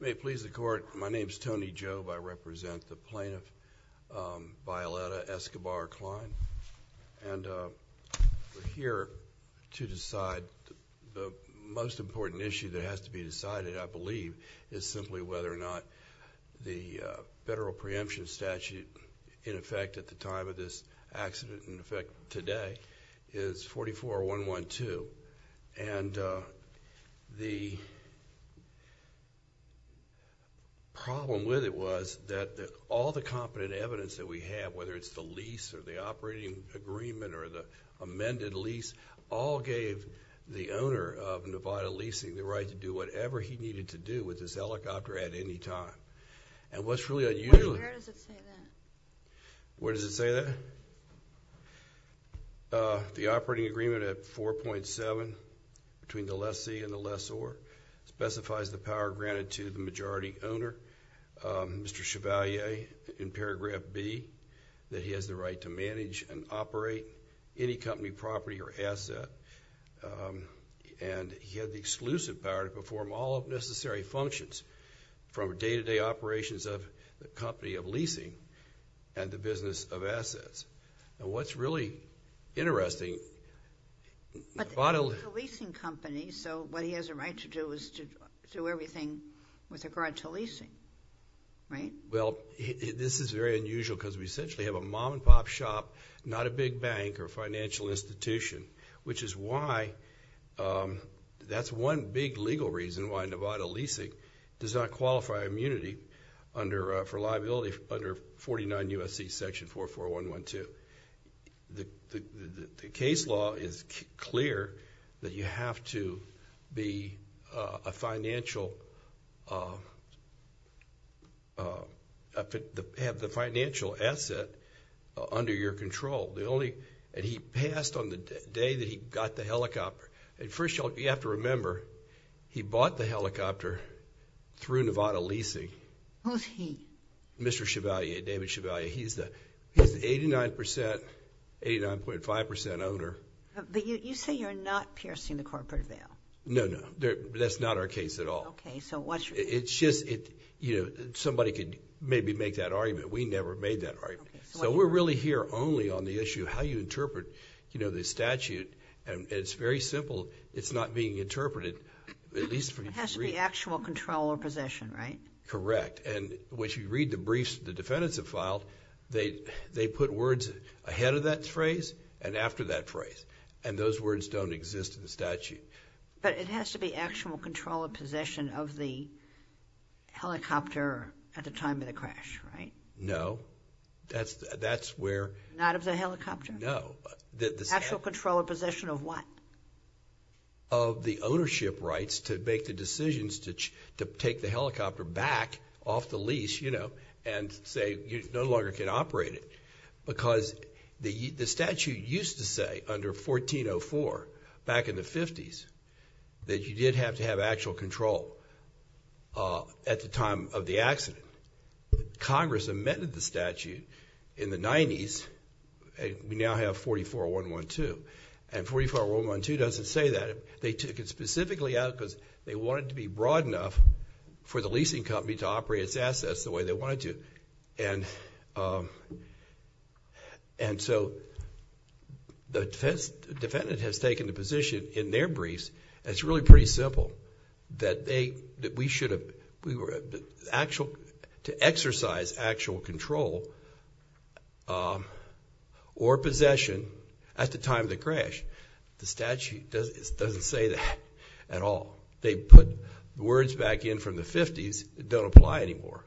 May it please the court, my name is Tony Jobe. I represent the plaintiff, Violeta Escobar Klein, and we're here to decide the most important issue that has to be decided, I believe, is simply whether or not the federal preemption statute, in fact today, is 44-112. And the problem with it was that all the competent evidence that we have, whether it's the lease or the operating agreement or the amended lease, all gave the owner of Nevada Leasing the right to do whatever he needed to do with this helicopter at any time. And what's really unusual, where does it say that? The operating agreement at 4.7 between the lessee and the lessor specifies the power granted to the majority owner, Mr. Chevalier, in paragraph B, that he has the right to manage and operate any company property or asset, and he had the exclusive power to perform all of necessary functions from day-to-day operations of the company of leasing and the business of assets. And what's really interesting, Nevada Leasing Company, so what he has a right to do is to do everything with regard to leasing, right? Well, this is very unusual because we essentially have a mom-and-pop shop, not a big bank or financial institution, which is why, that's one big legal reason why Nevada Leasing does not qualify immunity for liability under 49 U.S.C. section 44112. The case law is clear that you have to have the financial asset under your name. So, the day that he got the helicopter, and first of all, you have to remember he bought the helicopter through Nevada Leasing. Who's he? Mr. Chevalier. David Chevalier. He's the 89.5% owner. But you say you're not piercing the corporate veil? No, no. That's not our case at all. Okay, so what's your case? It's just, you know, somebody could maybe make that argument. We never made that argument. So, we're really here only on the issue how you interpret, you know, the statute. It's very simple. It's not being interpreted, at least... It has to be actual control or possession, right? Correct. When you read the briefs the defendants have filed, they put words ahead of that phrase and after that phrase, and those words don't exist in the statute. But it has to be actual control or possession of the helicopter at the time of the crash, right? No. That's where... Not of the helicopter? No. Actual control or possession of what? Of the ownership rights to make the decisions to take the helicopter back off the lease, you know, and say you no longer can operate it. Because the statute used to say under 1404, back in the 50s, that you did have to have actual control at the time of the accident. Congress amended the statute in the 90s. We now have 44-112. And 44-112 doesn't say that. They took it specifically out because they wanted to be broad enough for the leasing company to operate its assets the way they wanted to. And so, the defendant has taken the position in their briefs, it's really pretty simple, that we should have... to exercise actual control or possession at the time of the crash. The statute doesn't say that at all. They put words back in from the 50s that don't apply anymore.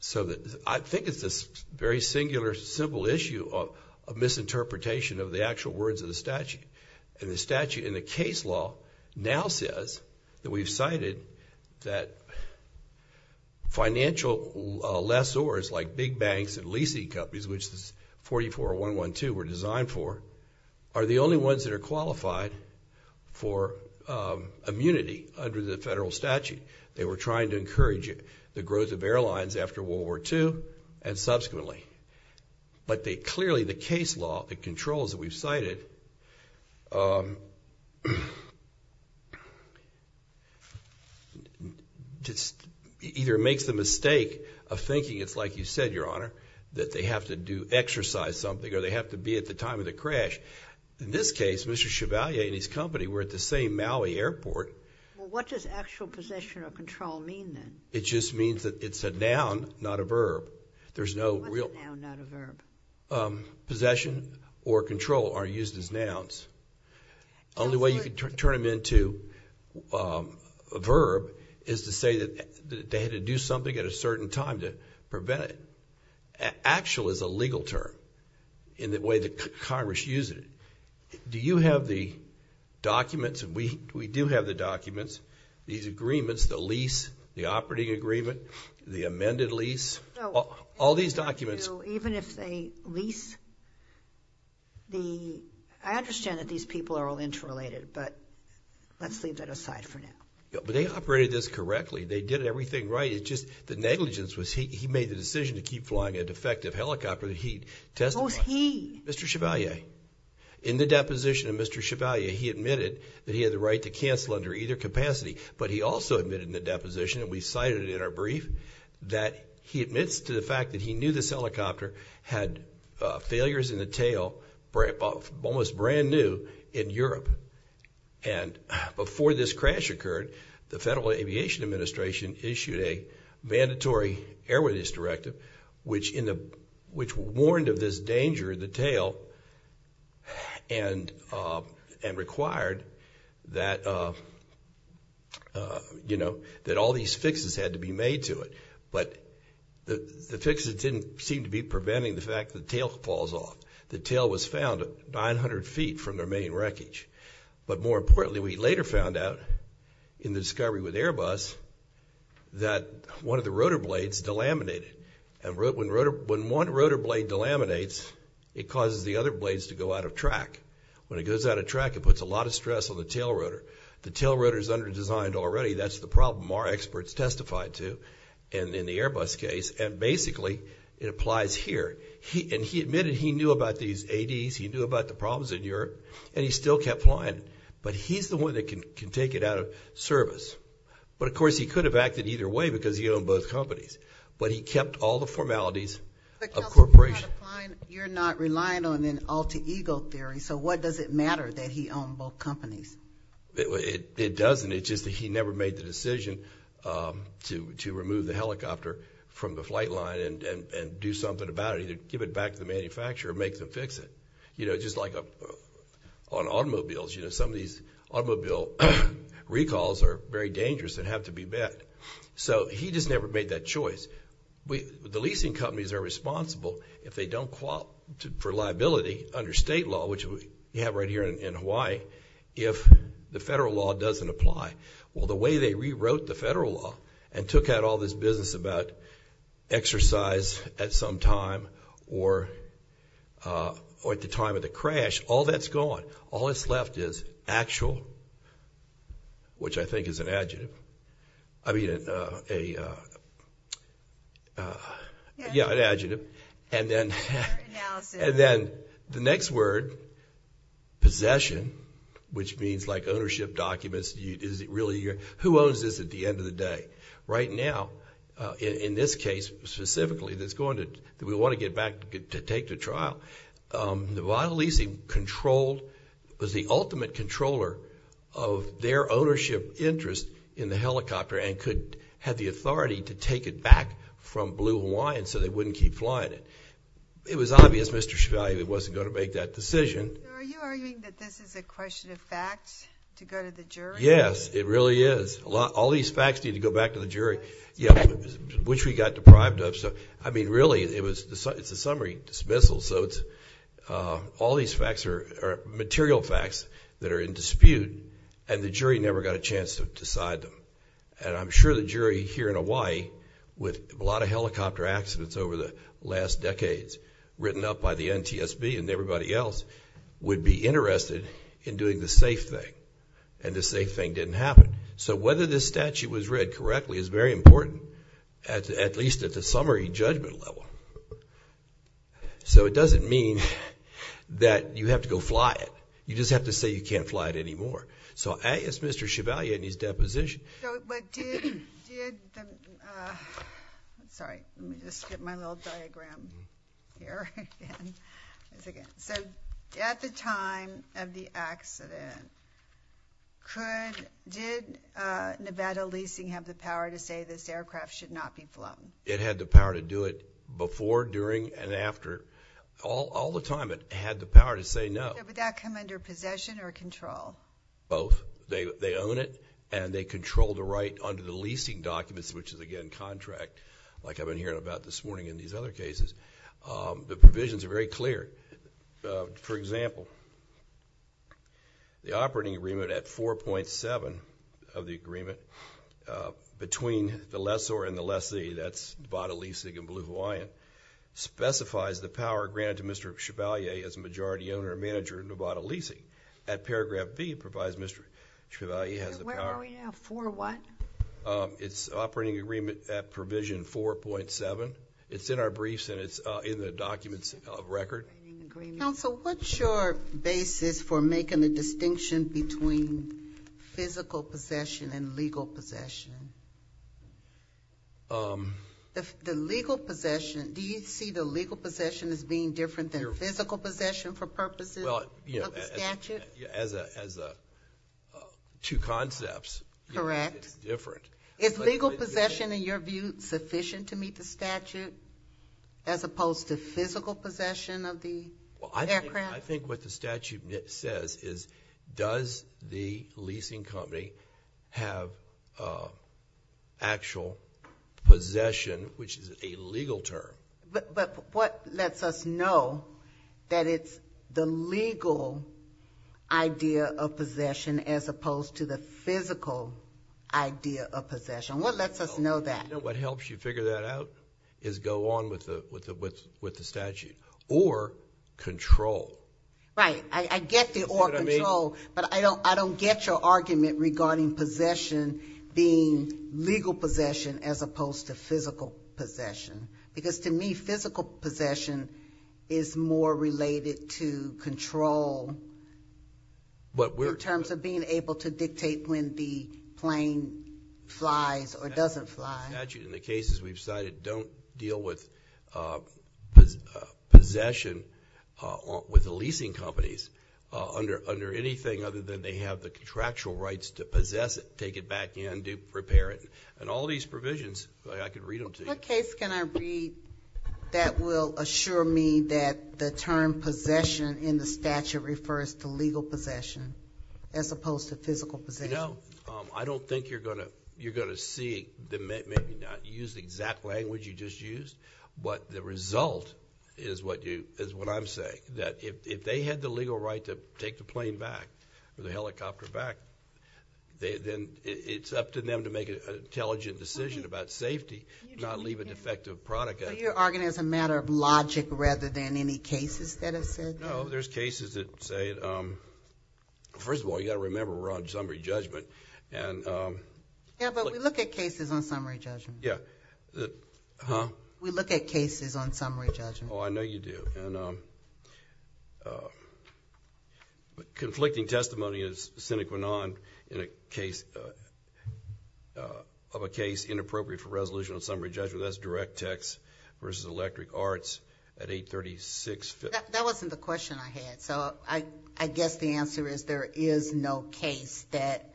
So, I think it's this very singular, simple issue of misinterpretation of the actual words of the statute. And the statute in the case law now says that we've cited that financial lessors like big banks and leasing companies, which 44-112 were designed for, are the only ones that are qualified for immunity under the federal statute. They were trying to encourage the growth of airlines after World War II and subsequently. But they clearly, the case law, the controls that we've cited, just either makes the mistake of thinking it's like you said, Your Honor, that they have to do exercise something or they have to be at the time of the crash. In this case, Mr. Chevalier and his company were at the same Maui Airport. Well, what does actual possession or control mean then? It just means that it's a noun, not a verb. There's no real... What's noun, not a verb? Actual possession or control are used as nouns. Only way you can turn them into a verb is to say that they had to do something at a certain time to prevent it. Actual is a legal term in the way that Congress uses it. Do you have the documents, and we do have the documents, these agreements, the lease, the operating agreement, the amended lease, all these documents... So even if they lease the... I understand that these people are all interrelated, but let's leave that aside for now. Yeah, but they operated this correctly. They did everything right. It's just the negligence was he made the decision to keep flying a defective helicopter that he testified... Who's he? Mr. Chevalier. In the deposition of Mr. Chevalier, he admitted that he had the right to cancel under either capacity, but he also admitted in the deposition that we cited in our brief, that he admits to the fact that he knew this helicopter had failures in the tail, almost brand new, in Europe. And before this crash occurred, the Federal Aviation Administration issued a mandatory airworthiness directive, which warned of this danger in the tail and required that all these fixes had to be made to it. But the fixes didn't seem to be preventing the fact that the tail falls off. The tail was found 900 feet from their main wreckage. But more importantly, we later found out in the discovery with Airbus that one of the rotor blades delaminated. And when one rotor blade delaminates, it causes the other blades to go out of track. When it goes out of track, it puts a lot of stress on the tail rotor. The tail rotor is under-designed already. That's the problem our experts testified to in the Airbus case. And basically, it applies here. And he admitted he knew about these ADs, he knew about the problems in Europe, and he still kept flying. But he's the one that can take it out of service. But of course, he could have acted either way because he owned both companies. But he kept all the formalities of corporation. You're not reliant on an alter ego theory. So what does it matter that he owned both companies? It doesn't. It's just that he never made the decision to remove the helicopter from the flight line and do something about it, either give it back to the manufacturer or make them fix it. You know, just like on automobiles, you know, some of these automobile recalls are very dangerous and have to be met. So he just never made that choice. The leasing companies are responsible. If they don't qualify for liability under state law, which you have right here in Hawaii, if the federal law doesn't apply. Well, the way they rewrote the federal law and took out all this business about exercise at some time or at the time of the crash, all that's gone. All that's left is actual, which I And then the next word, possession, which means like ownership documents. Is it really your, who owns this at the end of the day? Right now, in this case specifically, that's going to, that we want to get back to take to trial. The vital leasing control was the ultimate controller of their ownership interest in the helicopter and could have the authority to take it back from Blue Hawaiian, so they wouldn't keep flying it. It was obvious Mr. Chevalier wasn't going to make that decision. Are you arguing that this is a question of facts to go to the jury? Yes, it really is. A lot, all these facts need to go back to the jury, which we got deprived of. So, I mean, really it was the, it's a summary dismissal. So it's, all these facts are material facts that are in dispute and the jury never got a chance to decide them. And I'm sure the jury here in Hawaii with a lot of helicopter accidents over the last decades, written up by the NTSB and everybody else, would be interested in doing the safe thing. And the safe thing didn't happen. So whether this statute was read correctly is very important, at least at the summary judgment level. So it doesn't mean that you have to go fly it. You just have to say you can't fly it anymore. So, A, it's Mr. Chevalier and his deposition. So, but did, sorry, let me just get my little diagram here. So, at the time of the accident, could, did Nevada leasing have the power to say this aircraft should not be flown? It had the power to do it before, during, and after. All the time it had the power to say no. Would that come under possession or control? Both. They own it and they control the right under the leasing documents, which is again contract, like I've been hearing about this morning in these other cases. The provisions are very clear. For example, the operating agreement at 4.7 of the agreement between the lessor and the lessee, that's Nevada leasing and Blue Hawaiian, specifies the power granted to Mr. Chevalier as a majority owner and manager of Nevada leasing. At paragraph B, it provides Mr. Chevalier has the power. And where are we now, 4 what? It's operating agreement at provision 4.7. It's in our briefs and it's in the documents of record. Counsel, what's your basis for making the distinction between physical possession and legal possession? If the legal possession, do you see the legal possession as being different than the physical possession for purposes of the statute? Well, as two concepts, it's different. Is legal possession, in your view, sufficient to meet the statute as opposed to physical possession of the aircraft? Well, I think what the statute says is does the leasing company have actual possession, which is a legal term. But what lets us know that it's the legal idea of possession as opposed to the physical idea of possession? What lets us know that? What helps you figure that out is go on with the statute or control. Right. I get the or control, but I don't get your argument regarding possession being legal possession as opposed to physical possession. Because to me, physical possession is more related to control in terms of being able to dictate when the plane flies or doesn't fly. The statute and the cases we've cited don't deal with possession with the leasing companies under anything other than they have the contractual rights to possess it, take it back in, repair it. All these provisions, I could read them to you. What case can I read that will assure me that the term possession in the statute refers to legal possession as opposed to physical possession? You know, I don't think you're going to see, maybe not use the exact language you just used, but the result is what I'm saying, that if they had the legal right to take the plane back or the helicopter back, then it's up to them to make an intelligent decision about safety, not leave a defective product out there. You're arguing it's a matter of logic rather than any cases that are said? No. There's cases that say... First of all, you got to remember we're on summary judgment. Yeah, but we look at cases on summary judgment. Yeah. Huh? We look at cases on summary judgment. Oh, I know you do. Conflicting testimony is sine qua non of a case inappropriate for resolution on summary judgment. That's direct text versus electric arts at 836... That wasn't the question I had, so I guess the answer is there is no case that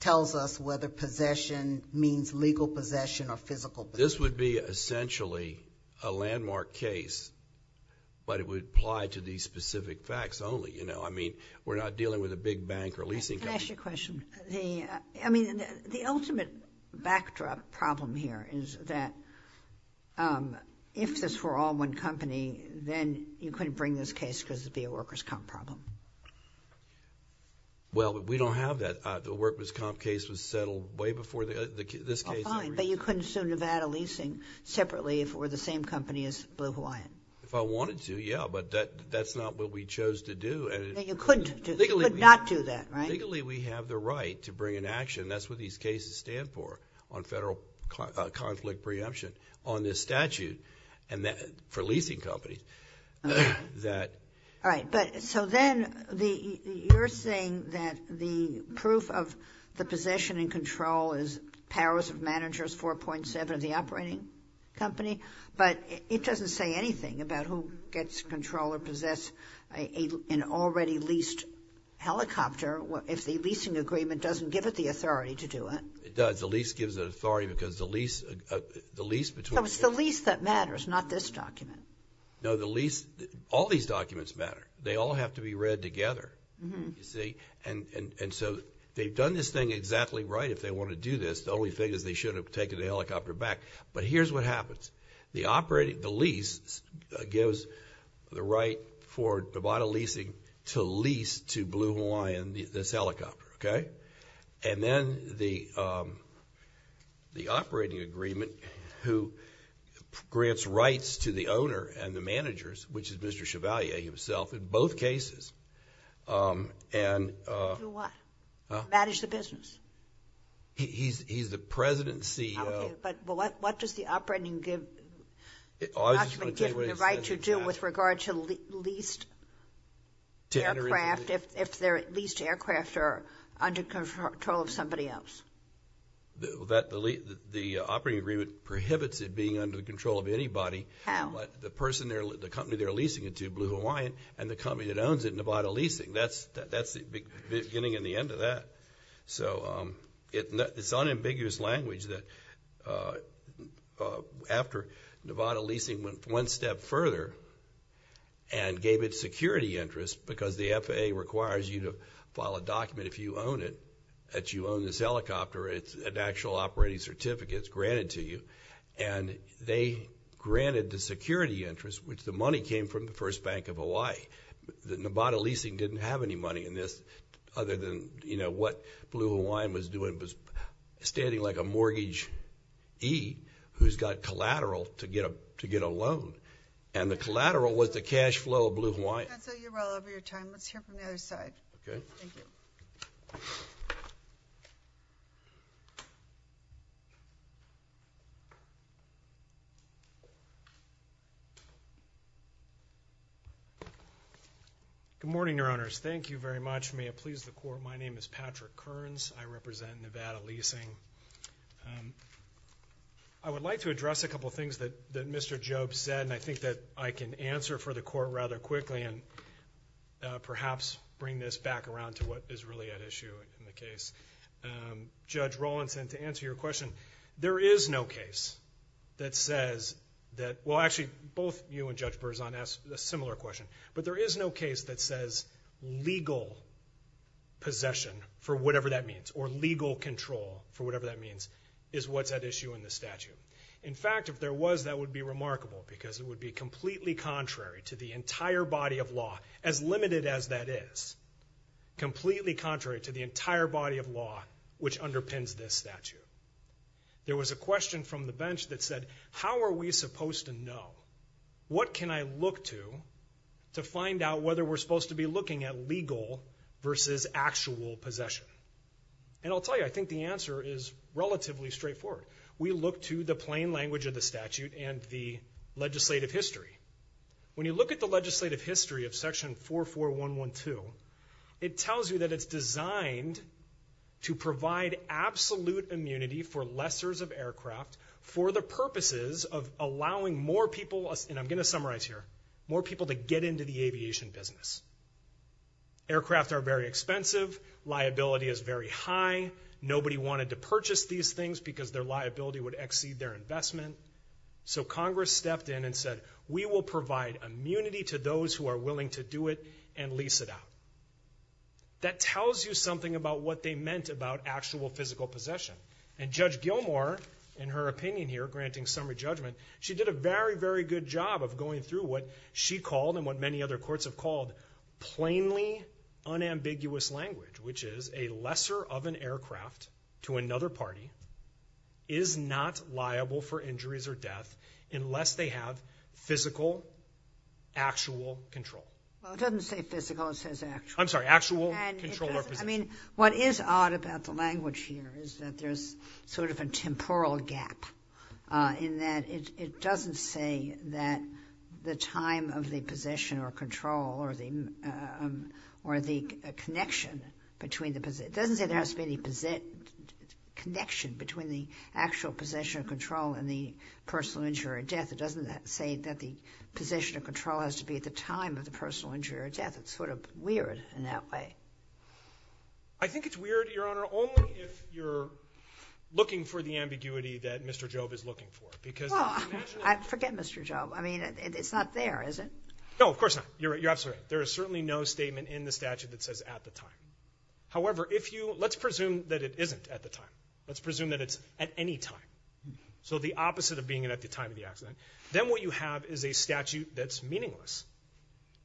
tells us whether possession means legal possession or physical possession. This would be essentially a landmark case, but it would apply to these specific facts only. I mean, we're not dealing with a big bank or leasing company. Can I ask you a question? The ultimate backdrop problem here is that if this were all one company, then you couldn't bring this case because it'd be a workers' comp problem. Well, but we don't have that. The workers' comp case was settled way before this case... But you couldn't sue Nevada Leasing separately if it were the same company as Blue Hawaiian? If I wanted to, yeah, but that's not what we chose to do. You couldn't. You could not do that, right? Legally, we have the right to bring an action, and that's what these cases stand for on federal conflict preemption on this statute for leasing companies. All right, but so then you're saying that the proof of the possession and control is powers of managers 4.7 of the operating company, but it doesn't say anything about who gets control or possess an already leased helicopter, if the leasing agreement doesn't give it the authority to do it. It does. The lease gives it authority because the lease... So it's the lease that matters, not this document. No, the lease... All these documents matter. They all have to be read together, you see, and so they've done this thing exactly right. If they want to do this, the only thing is they should have taken the helicopter back, but here's what happens. The lease gives the right for Babata Leasing to lease to Blue Hawaiian this helicopter, okay? Then the operating agreement who grants rights to the owner and the managers, which is Mr. Chevalier himself in both cases... Do what? Huh? He's the president and CEO. Okay, but what does the operating document give the right to do with regard to leased aircraft if they're leased aircraft or under control of somebody else? The operating agreement prohibits it being under the control of anybody. How? But the person, the company they're leasing it to, Blue Hawaiian, and the company that owns it, Babata Leasing, that's the beginning and the end of that. So it's unambiguous language that after Babata Leasing went one step further and gave it security interest, because the FAA requires you to file a document if you own it, that you own this helicopter, it's an actual operating certificate, it's granted to you, and they granted the security interest, which the money came from the First Bank of Hawaii. The Babata Leasing didn't have any money in this other than what Blue Hawaiian was doing was standing like a mortgagee who's got collateral to get a loan. And the collateral was the cash flow of Blue Hawaiian. Chancellor, you're well over your time. Let's hear from the other side. Okay. Thank you. Good morning, Your Honors. Thank you very much. May it please the Court. My name is Patrick Kearns. I represent Babata Leasing. I would like to address a couple of things that Mr. Jobes said, and I think that I can answer for the Court rather quickly and perhaps bring this back around to what is really at issue in the case. Judge Rawlinson, to answer your question, there is no case that says that... well, actually, both you and Judge Berzon asked a similar question, but there is no case that says legal possession for whatever that means or legal control for whatever that means is what's at issue in the statute. In fact, if there was, that would be remarkable because it would be completely contrary to the entire body of law, as limited as that is, completely contrary to the entire body of law which underpins this statute. There was a question from the bench that said, how are we supposed to know? What can I look to to find out whether we're supposed to be looking at legal versus actual possession? And I'll tell you, I think the answer is relatively straightforward. We look to the plain language of the statute and the legislative history. When you look at the legislative history of Section 44112, it tells you that it's designed to provide absolute immunity for lessers of aircraft for the purposes of allowing more people, and I'm going to summarize here, more people to get into the aviation business. Aircraft are very expensive, liability is very high, nobody wanted to purchase these things because their liability would exceed their investment. So Congress stepped in and said, we will provide immunity to those who are willing to do it and lease it out. That tells you something about what they meant about actual physical possession. And Judge Gilmour, in her opinion here, granting summary judgment, she did a very, very good job of going through what she called and what many other courts have called plainly unambiguous language, which is a lesser of an aircraft to another party is not liable for injuries or death unless they have physical, actual control. Well, it doesn't say physical, it says actual. I'm sorry, actual control or possession. I mean, what is odd about the language here is that there's sort of a temporal gap in that it doesn't say that the time of the possession or control or the connection between the possession, it doesn't say there has to be any connection between the actual possession or control and the personal injury or death. It doesn't say that the possession or control has to be at the time of the personal injury or death. It's sort of weird in that way. I think it's weird, Your Honor, only if you're looking for the ambiguity that Mr. Jobe is looking for, because I forget Mr. Jobe. I mean, it's not there, is it? No, of course not. You're absolutely right. There is certainly no statement in the statute that says at the time. However, if you, let's presume that it isn't at the time. Let's presume that it's at any time. So the opposite of being it at the time of the accident, then what you have is a statute that's meaningless.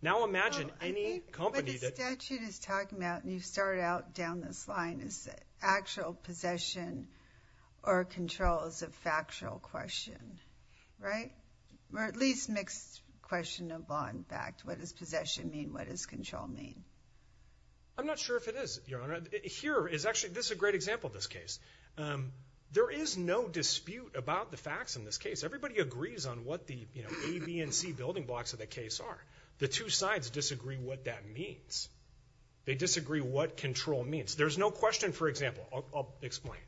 Now, imagine any company that... What the statute is talking about, and you start out down this line, is actual possession or control is a factual question, right? Or at least mixed question of law and fact. What does possession mean? What does control mean? I'm not sure if it is, Your Honor. Here is actually, this is a great example of this case. There is no dispute about the facts in this case. Everybody agrees on what the A, B, and C building blocks of the case are. The two sides disagree what that means. They disagree what control means. There's no question, for example, I'll explain.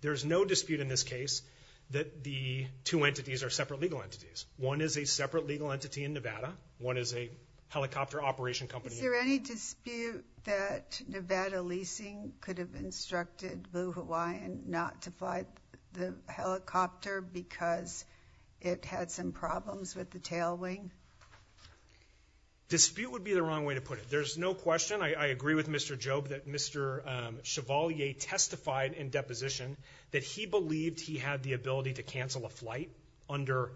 There's no dispute in this case that the two entities are separate legal entities. One is a separate legal entity in Nevada. One is a helicopter operation company. Is there any dispute that Nevada leasing could have instructed Blue Hawaiian not to buy the helicopter because it had some problems with the tail wing? Dispute would be the wrong way to put it. There's no question. I agree with Mr. Job that Mr. Chevalier testified in deposition that he believed he had the ability to cancel a flight under...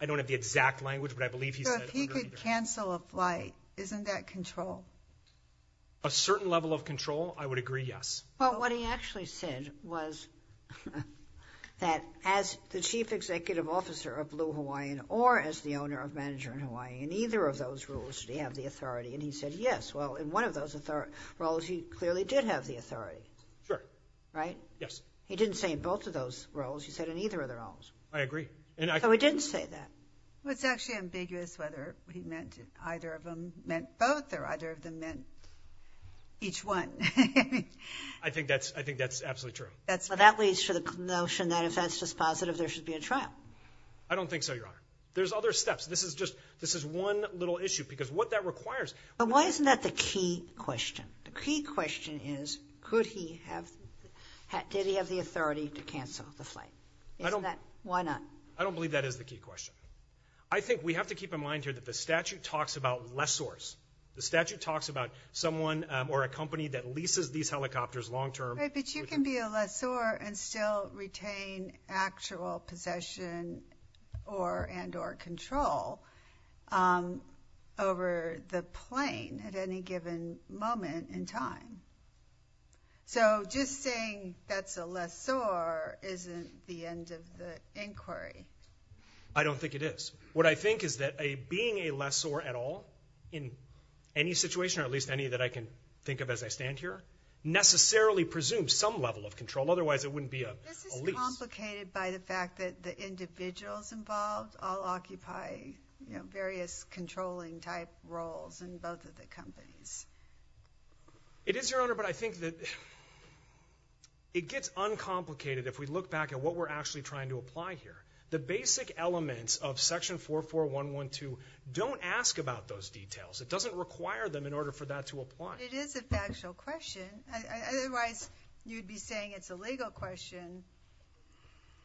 I don't have the exact language, but I believe he said... Cancel a flight. Isn't that control? A certain level of control. I would agree. Yes. But what he actually said was that as the chief executive officer of Blue Hawaiian or as the owner of Manager in Hawaii, in either of those roles, did he have the authority? And he said, yes. Well, in one of those roles, he clearly did have the authority. Sure. Right? Yes. He didn't say in both of those roles. He said in either of the roles. I agree. So he didn't say that. Well, it's actually ambiguous whether he meant either of them meant both or either of them meant each one. I think that's, I think that's absolutely true. That's what that leads to the notion that if that's just positive, there should be a trial. I don't think so, Your Honor. There's other steps. This is just, this is one little issue because what that requires... But why isn't that the key question? The key question is, could he have, did he have the authority to cancel the flight? Isn't that, why not? I don't believe that is the key question. I think we have to keep in mind here that the statute talks about lessors. The statute talks about someone or a company that leases these helicopters long-term. But you can be a lessor and still retain actual possession or, and or control over the plane at any given moment in time. So just saying that's a lessor isn't the end of the inquiry. I don't think it is. What I think is that a, being a lessor at all in any situation, or at least any that I can think of as I stand here, necessarily presumes some level of control. Otherwise it wouldn't be a lease. This is complicated by the fact that the individuals involved all occupy, you know, various controlling type roles in both of the companies. It is, Your Honor, but I think that it gets uncomplicated if we look back at what we're actually trying to apply here. The basic elements of Section 44112 don't ask about those details. It doesn't require them in order for that to apply. It is a factual question. Otherwise you'd be saying it's a legal question.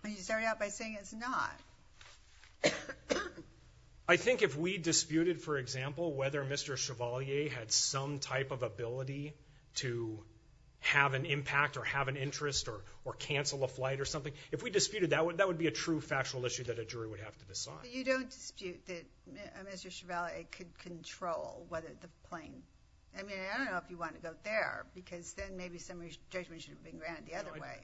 And you started out by saying it's not. I think if we disputed, for example, whether Mr. Chevalier had some type of ability to have an impact or have an interest or, or cancel a flight or something. If we disputed that, that would be a true, factual issue that a jury would have to decide. But you don't dispute that Mr. Chevalier could control whether the plane, I mean, I don't know if you want to go there because then maybe some of your judgment should have been granted the other way.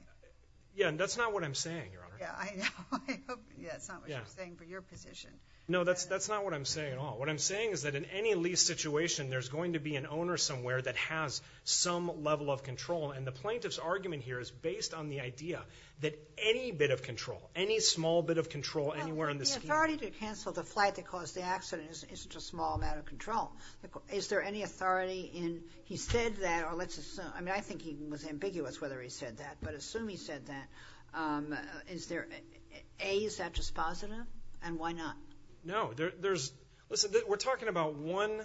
Yeah, and that's not what I'm saying, Your Honor. Yeah, I know, I hope that's not what you're saying for your position. No, that's, that's not what I'm saying at all. What I'm saying is that in any lease situation, there's going to be an owner somewhere that has some level of control. And the plaintiff's argument here is based on the idea that any bit of control, any small bit of control anywhere in the scheme. Well, the authority to cancel the flight that caused the accident isn't just a small amount of control. Is there any authority in, he said that, or let's assume, I mean, I think he was ambiguous whether he said that. But assume he said that, is there, A, is that dispositive and why not? No, there, there's, listen, we're talking about one,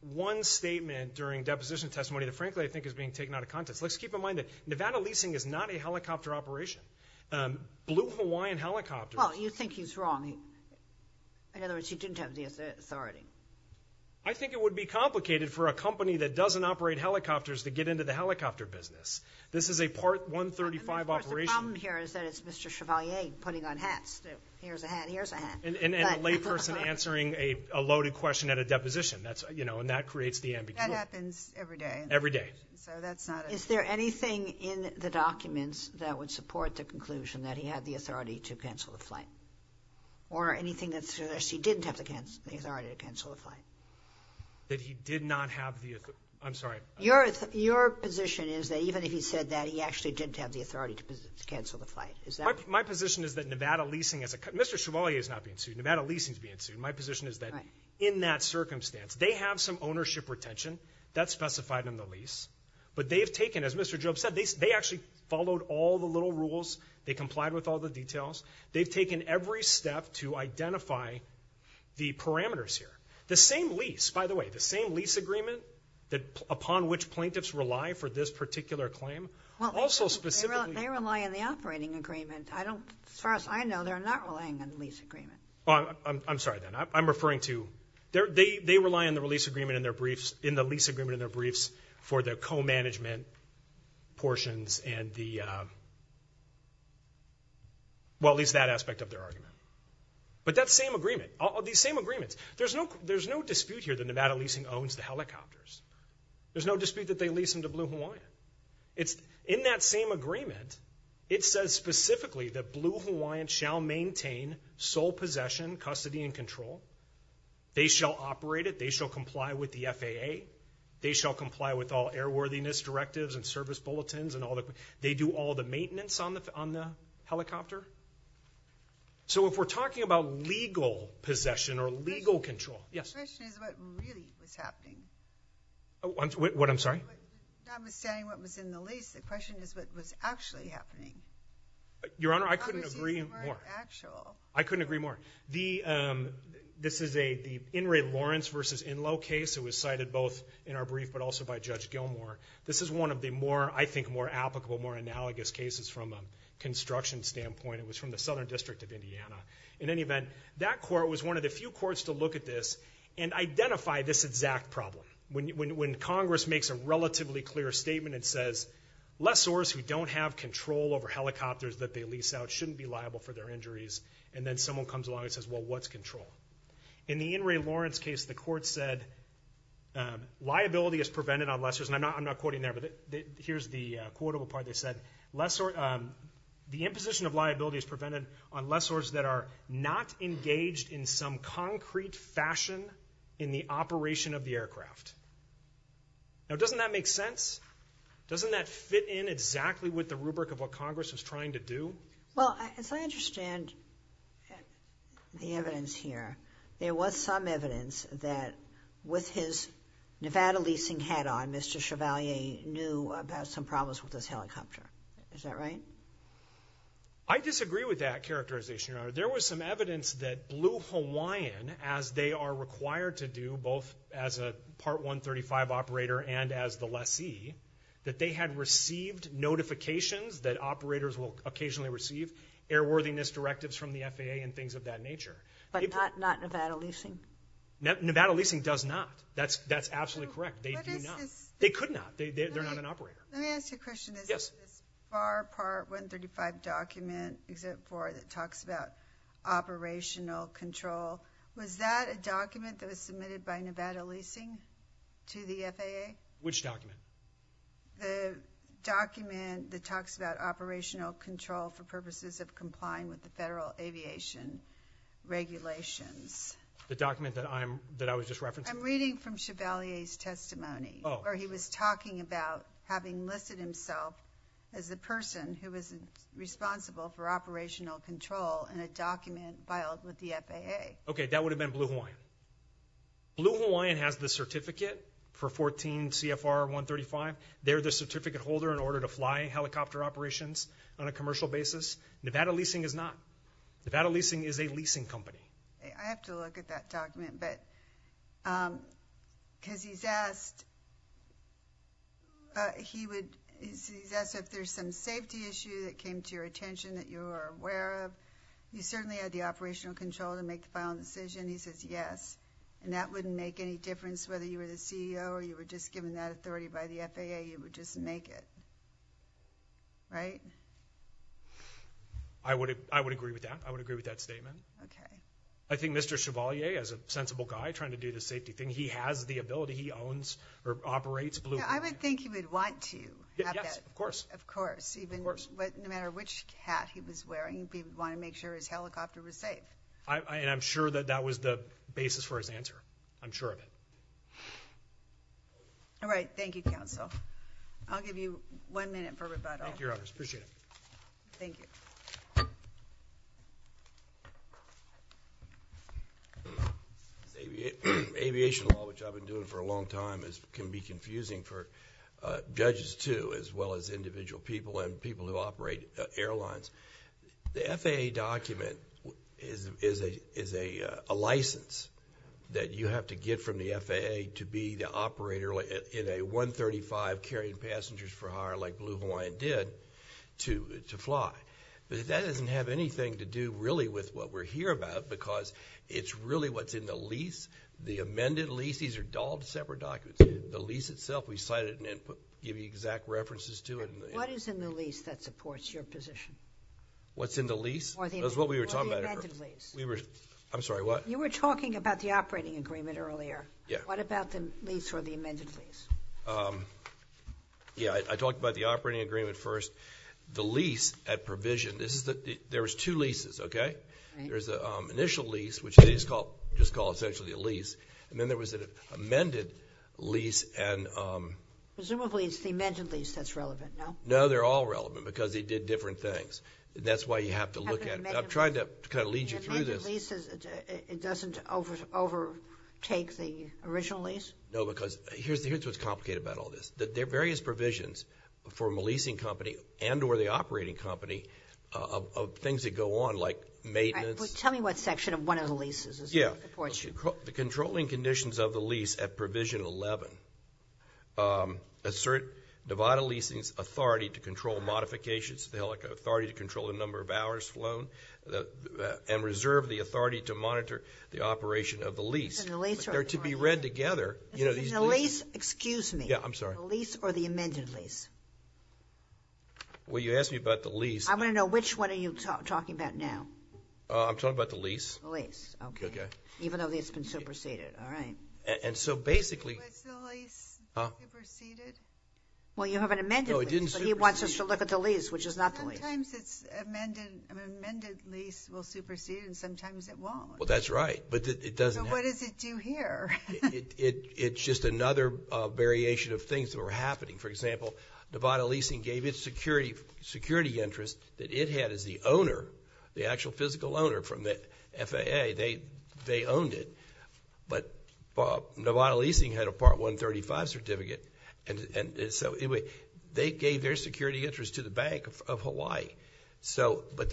one statement during deposition testimony that frankly I think is being taken out of context. Let's keep in mind that Nevada leasing is not a helicopter operation. Um, Blue Hawaiian Helicopter. Well, you think he's wrong. In other words, he didn't have the authority. I think it would be complicated for a company that doesn't operate helicopters to get into the helicopter business. This is a Part 135 operation. And of course the problem here is that it's Mr. Chevalier putting on hats. That here's a hat, here's a hat. And, and, and a layperson answering a loaded question at a deposition. That's, you know, and that creates the ambiguity. That happens every day. Every day. So that's not a. Is there anything in the documents that would support the conclusion that he had the authority to cancel the flight? Or anything that's, that he didn't have the, the authority to cancel the flight? That he did not have the, I'm sorry. Your, your position is that even if he said that, he actually didn't have the authority to cancel the flight. Is that. My position is that Nevada leasing as a, Mr. Chevalier is not being sued. Nevada leasing is being sued. My position is that in that circumstance, they have some ownership retention that's specified in the lease. But they've taken, as Mr. Job said, they, they actually followed all the little rules. They complied with all the details. They've taken every step to identify the parameters here. The same lease, by the way, the same lease agreement that upon which plaintiffs rely for this particular claim. Well, also specifically. They rely on the operating agreement. I don't, as far as I know, they're not relying on the lease agreement. Well, I'm, I'm, I'm sorry then. I'm, I'm referring to their, they, they rely on the release agreement in their briefs, in the lease agreement in their briefs for the co-management portions and the, well, at least that aspect of their argument. But that same agreement, these same agreements, there's no, there's no dispute here that Nevada leasing owns the helicopters. There's no dispute that they lease them to Blue Hawaiian. It's in that same agreement. It says specifically that Blue Hawaiian shall maintain sole possession, custody and control. They shall operate it. They shall comply with the FAA. They shall comply with all airworthiness directives and service bulletins and all the, they do all the maintenance on the, on the helicopter. So if we're talking about legal possession or legal control, yes. The question is what really was happening. What, what, I'm sorry? Notwithstanding what was in the lease, the question is what was actually happening. Your Honor, I couldn't agree more. I couldn't agree more. The, this is a, the In re Lawrence versus In low case. It was cited both in our brief, but also by Judge Gilmore. This is one of the more, I think, more applicable, more analogous cases from a construction standpoint. It was from the Southern District of Indiana. In any event, that court was one of the few courts to look at this and identify this exact problem. When, when, when Congress makes a relatively clear statement, it says lessors who don't have control over helicopters that they lease out shouldn't be liable for their injuries. And then someone comes along and says, well, what's control? In the In re Lawrence case, the court said liability is prevented on lessors. And I'm not, I'm not quoting there, but here's the quotable part. They said, lessor the imposition of liability is prevented on lessors that are not engaged in some concrete fashion in the operation of the aircraft. Now doesn't that make sense? Doesn't that fit in exactly with the rubric of what Congress was trying to do? Well, as I understand the evidence here, there was some evidence that with his Nevada leasing hat on, Mr. Chevalier knew about some problems with this helicopter. Is that right? I disagree with that characterization, Your Honor. There was some evidence that Blue Hawaiian, as they are required to do, both as a Part 135 operator and as the lessee, that they had received notifications that operators will occasionally receive, airworthiness directives from the FAA and things of that nature. But not Nevada leasing? Nevada leasing does not. That's absolutely correct. They do not. They could not. They're not an operator. Let me ask you a question. Is there a FAR Part 135 document, Exhibit 4, that talks about operational control? Was that a document that was submitted by Nevada leasing to the FAA? Which document? The document that talks about operational control for purposes of complying with the federal aviation regulations. The document that I was just referencing? I'm reading from Chevalier's testimony. Where he was talking about having listed himself as the person who was responsible for operational control in a document filed with the FAA. Okay, that would have been Blue Hawaiian. Blue Hawaiian has the certificate for 14 CFR 135. They're the certificate holder in order to fly helicopter operations on a commercial basis. Nevada leasing is not. Nevada leasing is a leasing company. I have to look at that document, but because he's asked, he would, he's asked if there's some safety issue that came to your attention that you are aware of. You certainly had the operational control to make the final decision. He says yes. And that wouldn't make any difference whether you were the CEO or you were just given that authority by the FAA, you would just make it, right? I would agree with that. I would agree with that statement. Okay. I think Mr. Chevalier, as a sensible guy trying to do the safety thing, he has the ability, he owns or operates Blue Hawaiian. Yeah, I would think he would want to have that. Yes, of course. Of course. Of course. But no matter which hat he was wearing, he would want to make sure his helicopter was safe. And I'm sure that that was the basis for his answer. I'm sure of it. All right, thank you, counsel. I'll give you one minute for rebuttal. Thank you, Your Honors. Appreciate it. Thank you. Aviation law, which I've been doing for a long time, can be confusing for judges too, as well as individual people and people who operate airlines. The FAA document is a license that you have to get from the FAA to be the operator in a 135 carrying passengers for hire, like Blue Hawaiian did, to fly. But that doesn't have anything to do, really, with what we're here about, because it's really what's in the lease, the amended lease. These are dolled separate documents. The lease itself, we cite it and give you exact references to it. What is in the lease that supports your position? What's in the lease? That's what we were talking about. Or the amended lease. I'm sorry, what? You were talking about the operating agreement earlier. Yeah. What about the lease or the amended lease? Yeah, I talked about the operating agreement first. The lease at provision, there's two leases, okay? There's an initial lease, which they just call essentially a lease. And then there was an amended lease and- Presumably, it's the amended lease that's relevant, no? No, they're all relevant, because they did different things. That's why you have to look at it. I'm trying to kind of lead you through this. The amended lease, it doesn't overtake the original lease? No, because here's what's complicated about all this. There are various provisions from a leasing company and or the operating company of things that go on, like maintenance. Tell me what section of one of the leases supports you. The controlling conditions of the lease at provision 11. Assert Nevada leasing's authority to control modifications. They'll have the authority to control the number of hours flown and reserve the authority to monitor the operation of the lease. And the lease are- They're to be read together. You know, these- And the lease, excuse me. Yeah, I'm sorry. The lease or the amended lease? Well, you asked me about the lease. I want to know which one are you talking about now? I'm talking about the lease. The lease, okay. Okay. Even though it's been superseded, all right. And so, basically- Was the lease superseded? Well, you have an amended lease, but he wants us to look at the lease, which is not the lease. Sometimes it's an amended lease will supersede, and sometimes it won't. Well, that's right, but it doesn't- So, what does it do here? It's just another variation of things that were happening. For example, Nevada Leasing gave its security interest that it had as the owner, the actual physical owner from the FAA. They owned it, but Nevada Leasing had a Part 135 certificate. And so, anyway, they gave their security interest to the Bank of Hawaii. So, but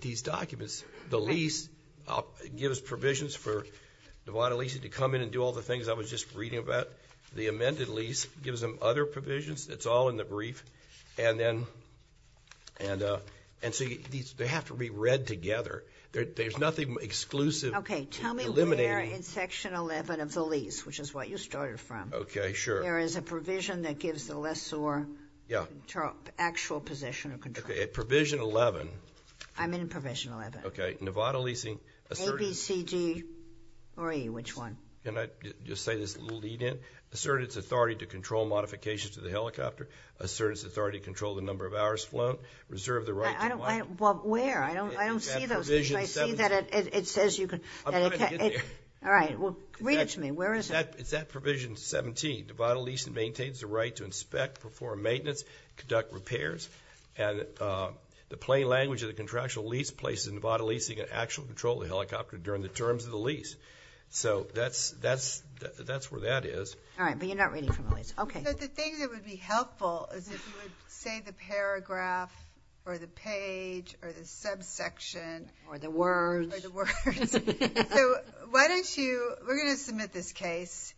these documents, the lease gives provisions for Nevada Leasing to come in and do all the things I was just reading about. The amended lease gives them other provisions. It's all in the brief. And so, they have to be read together. There's nothing exclusive. Okay, tell me where in section 11 of the lease, which is what you started from. Okay, sure. There is a provision that gives the lessor actual possession or control. Okay, at provision 11. I'm in provision 11. Okay, Nevada Leasing- A, B, C, D, or E, which one? Can I just say this a little lead in? Assert its authority to control modifications to the helicopter. Assert its authority to control the number of hours flown. Reserve the right to- Well, where? I don't see those. I see that it says you can- I'm going to get there. All right, well, read it to me. Where is it? It's at provision 17. Nevada Leasing maintains the right to inspect, perform maintenance, conduct repairs. And the plain language of the contractual lease places Nevada Leasing in actual control of the helicopter during the terms of the lease. So, that's where that is. All right, but you're not reading from the lease. Okay. So, the thing that would be helpful is if you would say the paragraph, or the page, or the subsection- Or the words. Or the words. So, why don't you, we're going to submit this case.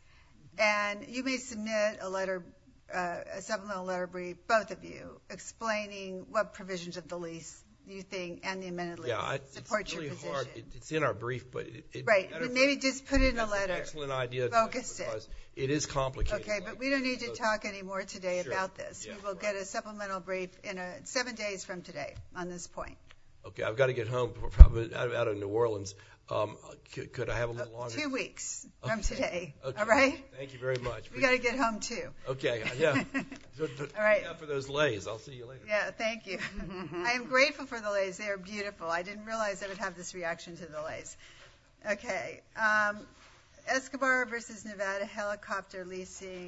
And you may submit a letter, a supplemental letter brief, both of you, explaining what provisions of the lease you think, and the amended lease, support your position. It's in our brief, but- Right, but maybe just put in a letter, focus it. It is complicated. Okay, but we don't need to talk anymore today about this. We will get a supplemental brief in seven days from today on this point. Okay, I've got to get home, probably out of New Orleans. Could I have a little longer? Two weeks from today, all right? Thank you very much. We've got to get home, too. Okay, yeah. All right. Look out for those leis, I'll see you later. Yeah, thank you. I am grateful for the leis, they are beautiful. I didn't realize I would have this reaction to the leis. Okay, Escobar versus Nevada helicopter leasing.